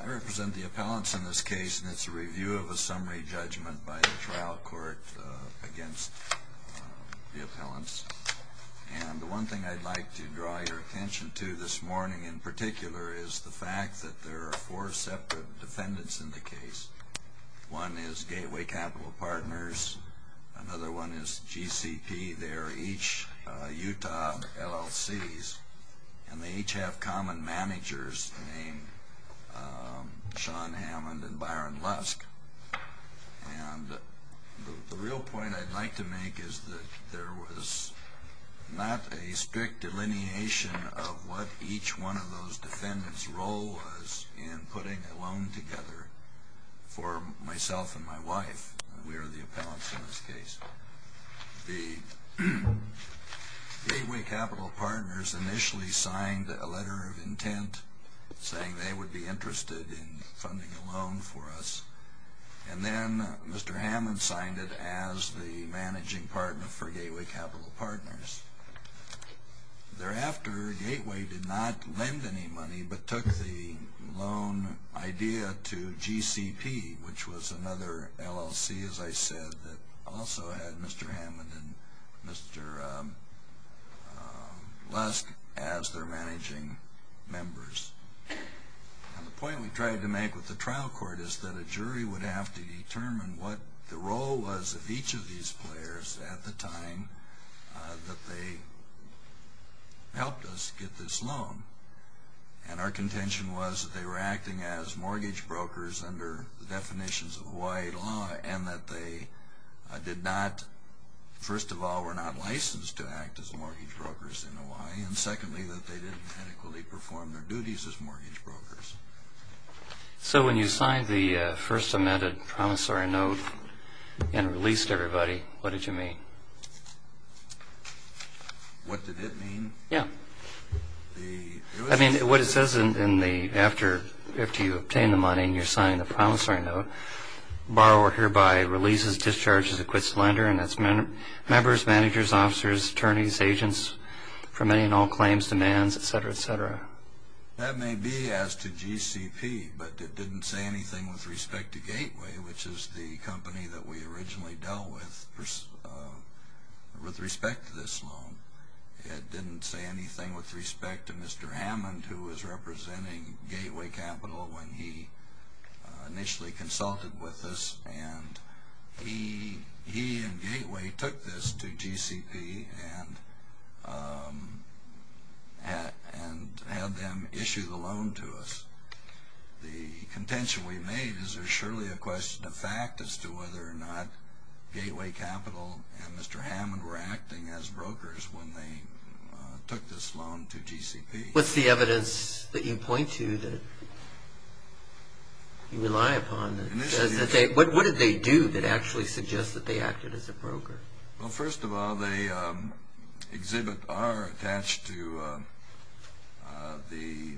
I represent the appellants in this case, and it's a review of a summary judgment by the trial court against the appellants. And the one thing I'd like to draw your attention to this morning in particular is the fact that there are four separate defendants in the case. One is Gateway Capital Partners. Another one is GCP. They're each Utah LLCs, and they each have common managers named Sean Hammond and Byron Lusk. And the real point I'd like to make is that there was not a strict delineation of what each one of those defendants' role was in putting a loan together for myself and my wife. We are the appellants in this case. The Gateway Capital Partners initially signed a letter of intent saying they would be interested in funding a loan for us. And then Mr. Hammond signed it as the managing partner for Gateway Capital Partners. Thereafter, Gateway did not lend any money but took the loan idea to GCP, which was another LLC, as I said, that also had Mr. Hammond and Mr. Lusk as their managing members. And the point we tried to make with the trial court is that a jury would have to determine what the role was of each of these players at the time that they helped us get this loan. And our contention was that they were acting as mortgage brokers under the definitions of Hawaii law and that they did not, first of all, were not licensed to act as mortgage brokers in Hawaii, and secondly, that they didn't adequately perform their duties as mortgage brokers. So when you signed the first amended promissory note and released everybody, what did you mean? What did it mean? Yeah. I mean, what it says in the, after you obtain the money and you're signing the promissory note, borrower hereby releases, discharges, acquits lender, and that's members, managers, officers, attorneys, agents, for many and all claims, demands, etc., etc. That may be as to GCP, but it didn't say anything with respect to Gateway, which is the company that we originally dealt with, with respect to this loan. It didn't say anything with respect to Mr. Hammond, who was representing Gateway Capital when he initially consulted with us, and he and Gateway took this to GCP and had them issue the loan to us. The contention we made is there's surely a question of fact as to whether or not Gateway Capital and Mr. Hammond were acting as brokers when they took this loan to GCP. What's the evidence that you point to that you rely upon that says that they, what did they do that actually suggests that they acted as a broker? Well, first of all, the exhibit R attached to the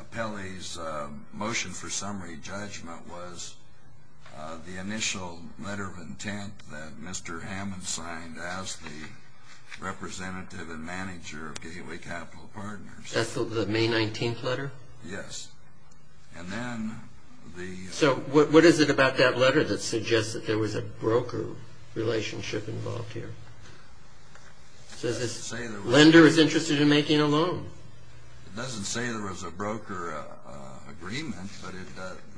appellee's motion for summary judgment was the initial letter of intent that Mr. Hammond signed as the representative and manager of Gateway Capital Partners. That's the May 19th letter? Yes. And then the... So what is it about that letter that suggests that there was a broker relationship involved here? It doesn't say there was... Lender is interested in making a loan. It doesn't say there was a broker agreement,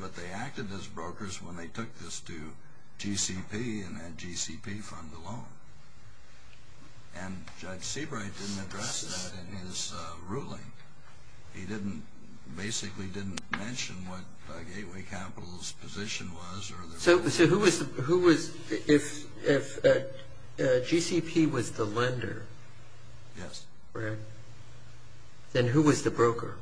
but they acted as brokers when they took this to GCP and had GCP fund the loan. And Judge Seabright didn't address that in his ruling. He didn't, basically didn't mention what Gateway Capital's position was. So who was, if GCP was the lender? Yes. Then who was the broker?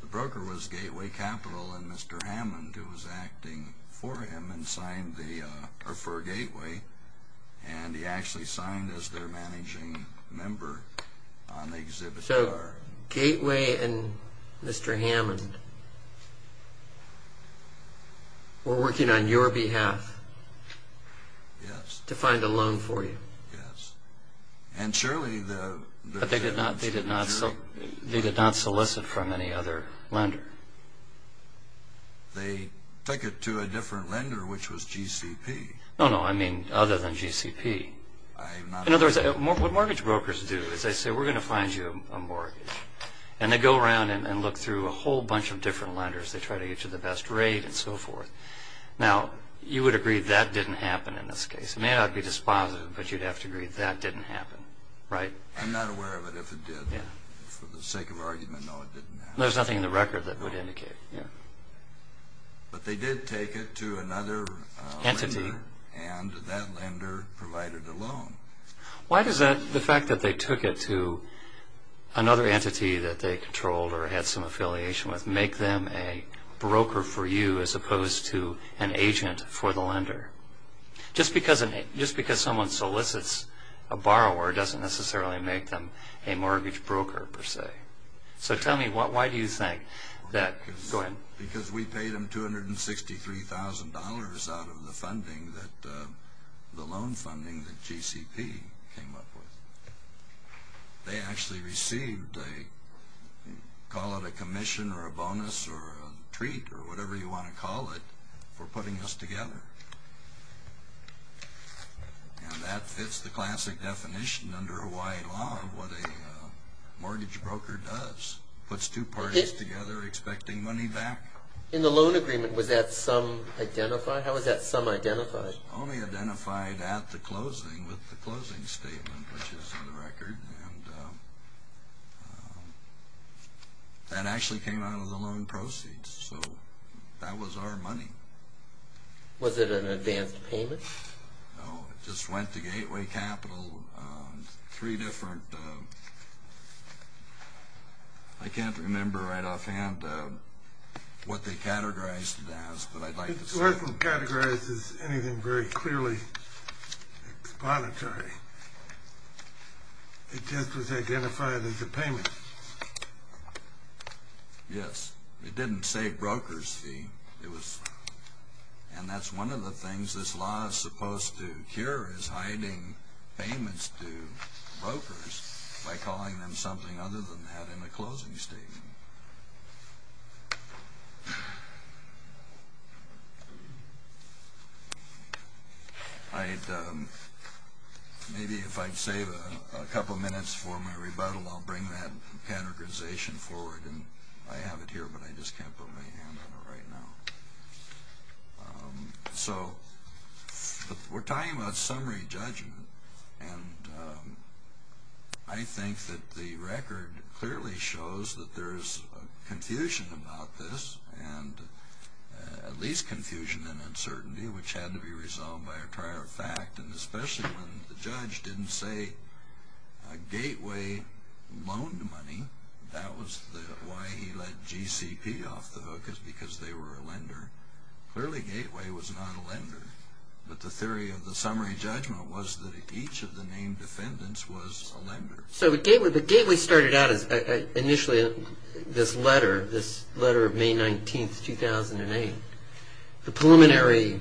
The broker was Gateway Capital and Mr. Hammond who was acting for him and signed the, or for Gateway, and he actually signed as their managing member on the exhibit R. Gateway and Mr. Hammond were working on your behalf to find a loan for you. Yes. And surely the... But they did not solicit from any other lender. They took it to a different lender which was GCP. No, no, I mean other than GCP. I'm not... In other words, what mortgage brokers do is they say we're going to find you a mortgage. And they go around and look through a whole bunch of different lenders. They try to get you the best rate and so forth. Now, you would agree that didn't happen in this case. It may not be dispositive, but you'd have to agree that didn't happen. Right? I'm not aware of it if it did. Yeah. For the sake of argument, no, it didn't happen. There's nothing in the record that would indicate, yeah. But they did take it to another... Entity. Entity. And that lender provided a loan. Why does the fact that they took it to another entity that they controlled or had some affiliation with make them a broker for you as opposed to an agent for the lender? Just because someone solicits a borrower doesn't necessarily make them a mortgage broker per se. So tell me, why do you think that... Go ahead. Because we paid them $263,000 out of the funding, the loan funding that GCP came up with. They actually received a, call it a commission or a bonus or a treat or whatever you want to call it, for putting us together. And that fits the classic definition under Hawaii law of what a mortgage broker does. Puts two parties together expecting money back. In the loan agreement, was that sum identified? How was that sum identified? It was only identified at the closing with the closing statement, which is in the record. And that actually came out of the loan proceeds. So that was our money. Was it an advanced payment? No, it just went to Gateway Capital, three different... I can't remember right offhand what they categorized it as, but I'd like to say... It wasn't categorized as anything very clearly exponentary. It just was identified as a payment. Yes. It didn't save broker's fee. And that's one of the things this law is supposed to cure, is hiding payments to brokers by calling them something other than that in a closing statement. Maybe if I'd save a couple minutes for my rebuttal, I'll bring that categorization forward. And I have it here, but I just can't put my hand on it right now. So we're talking about summary judgment. And I think that the record clearly shows that there's confusion about this, and at least confusion and uncertainty, which had to be resolved by a prior fact. And especially when the judge didn't say Gateway loaned money. That was why he let GCP off the hook, because they were a lender. Clearly Gateway was not a lender. But the theory of the summary judgment was that each of the named defendants was a lender. So Gateway started out as initially this letter, this letter of May 19, 2008. The preliminary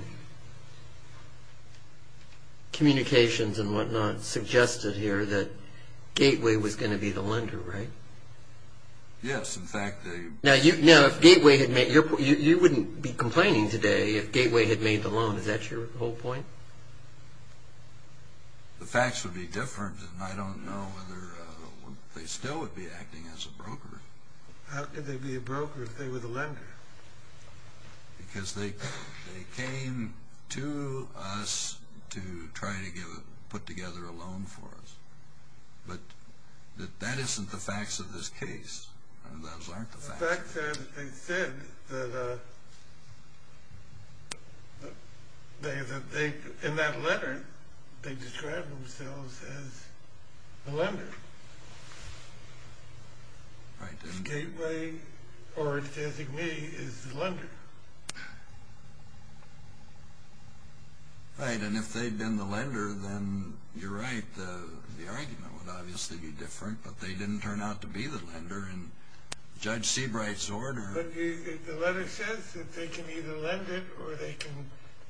communications and whatnot suggested here that Gateway was going to be the lender, right? Yes. In fact, they... Now, you wouldn't be complaining today if Gateway had made the loan. Is that your whole point? The facts would be different, and I don't know whether they still would be acting as a broker. How could they be a broker if they were the lender? Because they came to us to try to put together a loan for us. But that isn't the facts of this case. Those aren't the facts. The facts are that they said that they, in that letter, they described themselves as the lender. Right. If Gateway, or if they're saying me, is the lender. Right. And if they'd been the lender, then you're right. The argument would obviously be different, but they didn't turn out to be the lender. And Judge Seabright's order... But the letter says that they can either lend it or they can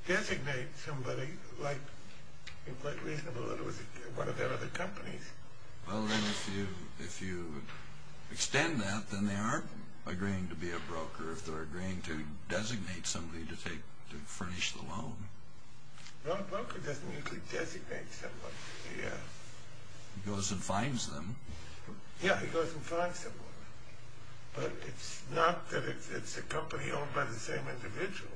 designate somebody, like it might be reasonable that it was one of their other companies. Well, then, if you extend that, then they aren't agreeing to be a broker. I'm not sure if they're agreeing to designate somebody to furnish the loan. Well, a broker doesn't usually designate someone. He goes and finds them. Yeah, he goes and finds someone. But it's not that it's a company owned by the same individuals.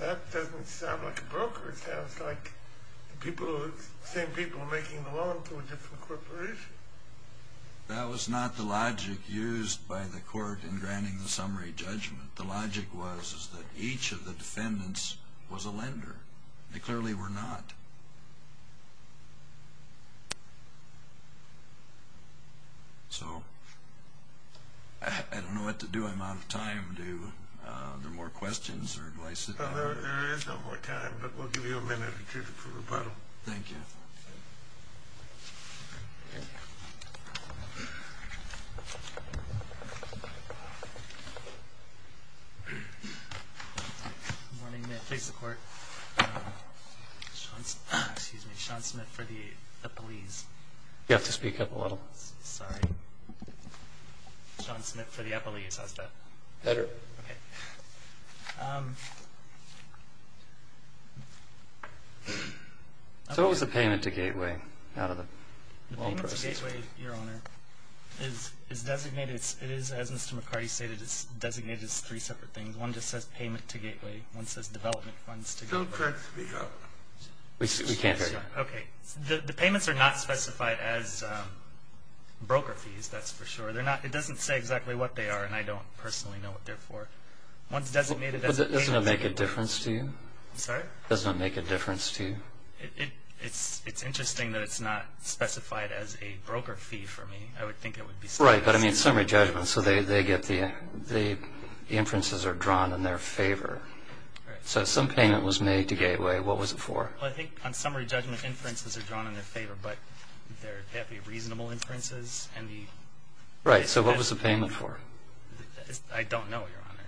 That doesn't sound like a broker. It sounds like the same people are making the loan to a different corporation. That was not the logic used by the court in granting the summary judgment. The logic was that each of the defendants was a lender. They clearly were not. So I don't know what to do. I'm out of time. Are there more questions or advice? There is no more time, but we'll give you a minute or two for rebuttal. Thank you. Good morning. May I please have the court? Excuse me. Sean Smith for the Eppleese. You have to speak up a little. Sean Smith for the Eppleese. How's that? Better. Okay. So what was the payment to Gateway out of the loan process? The payment to Gateway, Your Honor, is designated as Mr. McCarty stated. It's designated as three separate things. One just says payment to Gateway. One says development funds to Gateway. Don't try to speak up. We can't hear you. Okay. The payments are not specified as broker fees. That's for sure. It doesn't say exactly what they are, and I don't personally know what they're for. One's designated as payment to Gateway. Doesn't it make a difference to you? I'm sorry? Doesn't it make a difference to you? It's interesting that it's not specified as a broker fee for me. I would think it would be specified. Right, but I mean summary judgment. So the inferences are drawn in their favor. So some payment was made to Gateway. What was it for? I think on summary judgment, inferences are drawn in their favor, but they have to be reasonable inferences. Right, so what was the payment for? I don't know, Your Honor.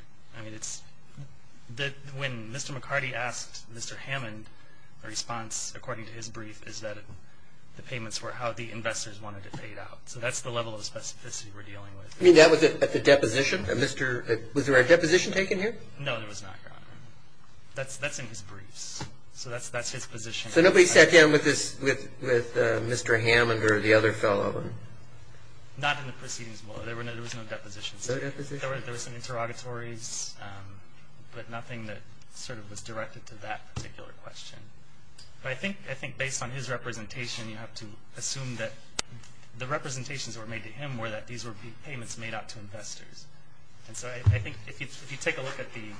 When Mr. McCarty asked Mr. Hammond, the response, according to his brief, is that the payments were how the investors wanted it paid out. So that's the level of specificity we're dealing with. You mean that was at the deposition? Was there a deposition taken here? No, there was not, Your Honor. That's in his briefs. So that's his position. So nobody sat down with Mr. Hammond or the other fellow? Not in the proceedings, Your Honor. There was no deposition. There were some interrogatories, but nothing that sort of was directed to that particular question. But I think based on his representation, you have to assume that the representations that were made to him were that these were payments made out to investors. And so I think if you take a look at the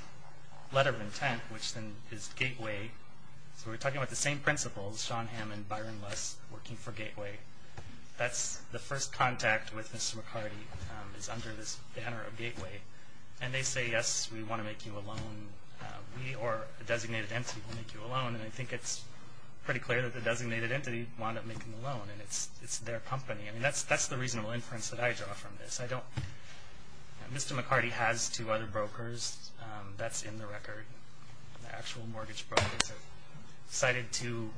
letter of intent, which then is Gateway, so we're talking about the same principles, Sean Hammond, Byron Luss, working for Gateway. That's the first contact with Mr. McCarty is under this banner of Gateway. And they say, yes, we want to make you a loan. We or a designated entity will make you a loan. And I think it's pretty clear that the designated entity wound up making the loan, and it's their company. That's the reasonable inference that I draw from this. Mr. McCarty has two other brokers. That's in the record. The actual mortgage brokers are cited to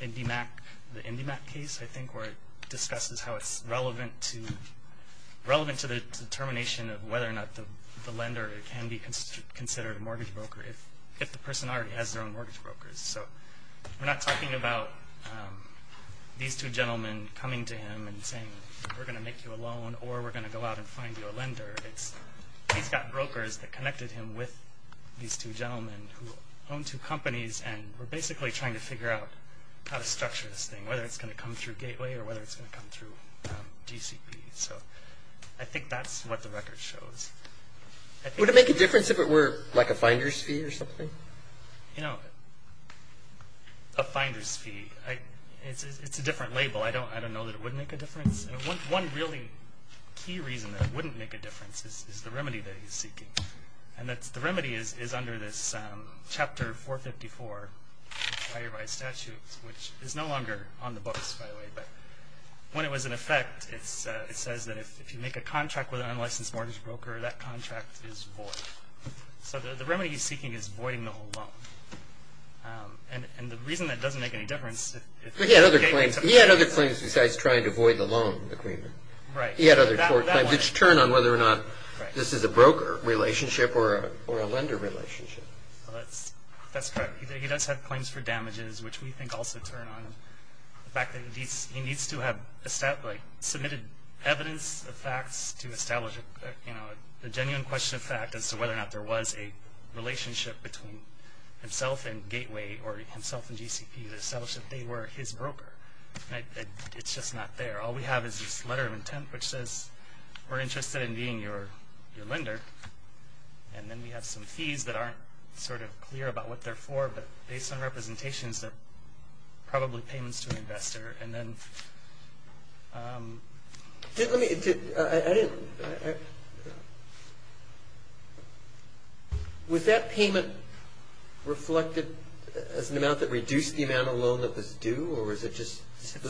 the IndyMac case, I think, where it discusses how it's relevant to the determination of whether or not the lender can be considered a mortgage broker if the person already has their own mortgage brokers. So we're not talking about these two gentlemen coming to him and saying, we're going to make you a loan or we're going to go out and find you a lender. He's got brokers that connected him with these two gentlemen who own two companies and were basically trying to figure out how to structure this thing, whether it's going to come through Gateway or whether it's going to come through GCP. So I think that's what the record shows. Would it make a difference if it were like a finder's fee or something? You know, a finder's fee, it's a different label. I don't know that it would make a difference. One really key reason that it wouldn't make a difference is the remedy that he's seeking. And the remedy is under this Chapter 454 Fireby Statute, which is no longer on the books, by the way. But when it was in effect, it says that if you make a contract with an unlicensed mortgage broker, that contract is void. So the remedy he's seeking is voiding the whole loan. And the reason that it doesn't make any difference is he's taking something else. Besides trying to void the loan agreement. Right. He had other court claims. It's a turn on whether or not this is a broker relationship or a lender relationship. That's correct. He does have claims for damages, which we think also turn on him. The fact that he needs to have submitted evidence of facts to establish a genuine question of fact as to whether or not there was a relationship between himself and Gateway or himself and GCP to establish that they were his broker. It's just not there. All we have is this letter of intent which says we're interested in being your lender. And then we have some fees that aren't sort of clear about what they're for, but based on representations they're probably payments to an investor. Was that payment reflected as an amount that reduced the amount of loan that was due? Or was it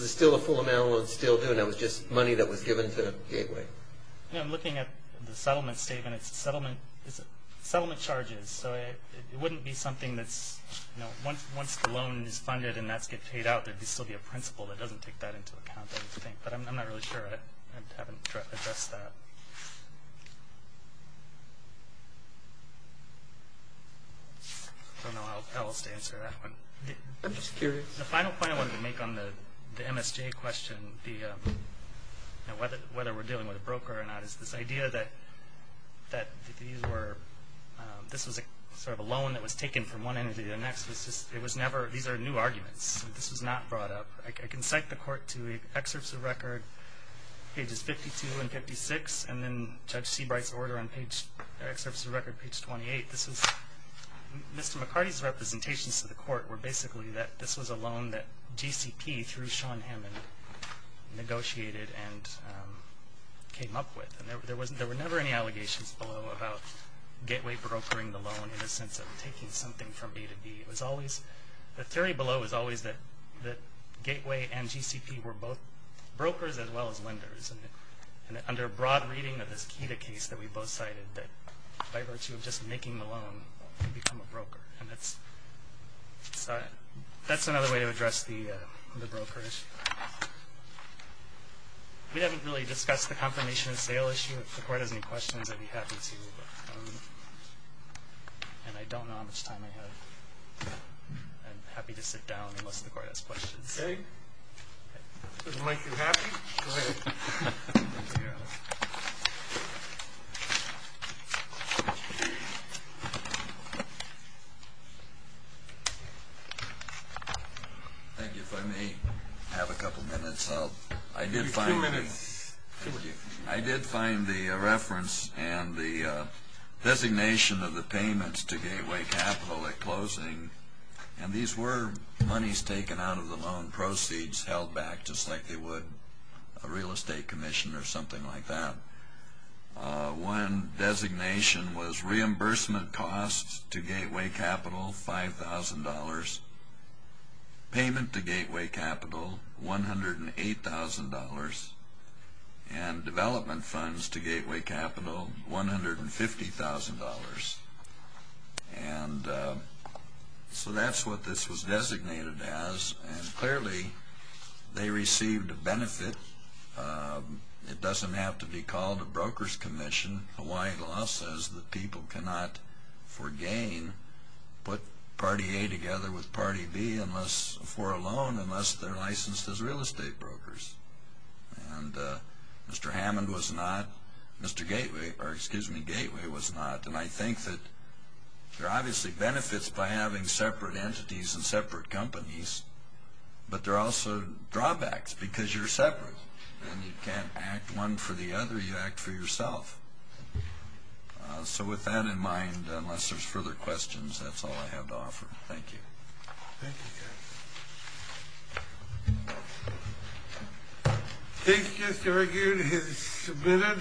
still a full amount of loan still due and that was just money that was given to Gateway? I'm looking at the settlement statement. It's settlement charges. So it wouldn't be something that's, you know, once the loan is funded and that's paid out, it would still be a principal that doesn't take that into account, I would think. But I'm not really sure. I haven't addressed that. I don't know how else to answer that one. I'm just curious. The final point I wanted to make on the MSJ question, whether we're dealing with a broker or not, is this idea that this was sort of a loan that was taken from one entity to the next. These are new arguments. This was not brought up. I can cite the court to excerpts of record, pages 52 and 56, and then Judge Seabright's order on excerpts of record page 28. Mr. McCarty's representations to the court were basically that this was a loan that GCP, through Sean Hammond, negotiated and came up with. And there were never any allegations below about Gateway brokering the loan in the sense of taking something from A to B. The theory below is always that Gateway and GCP were both brokers as well as lenders. And under broad reading of this KEDA case that we both cited, that by virtue of just making the loan, it would become a broker. And that's another way to address the broker issue. We haven't really discussed the confirmation of sale issue. If the court has any questions, I'd be happy to. And I don't know how much time I have. I'm happy to sit down unless the court has questions. Okay. If it doesn't make you happy, go ahead. Thank you. If I may have a couple minutes. Maybe two minutes. I did find the reference and the designation of the payments to Gateway Capital at closing. And these were monies taken out of the loan, proceeds held back just like they would a real estate commission or something like that. One designation was reimbursement costs to Gateway Capital, $5,000. Payment to Gateway Capital, $108,000. And development funds to Gateway Capital, $150,000. And so that's what this was designated as. And clearly they received a benefit. It doesn't have to be called a broker's commission. Hawaiian law says that people cannot, for gain, put party A together with party B for a loan unless they're licensed as real estate brokers. And Mr. Hammond was not. Mr. Gateway was not. And I think that there are obviously benefits by having separate entities and separate companies, but there are also drawbacks because you're separate. And you can't act one for the other. You act for yourself. So with that in mind, unless there's further questions, that's all I have to offer. Thank you. Thank you, guys. Case just argued and submitted.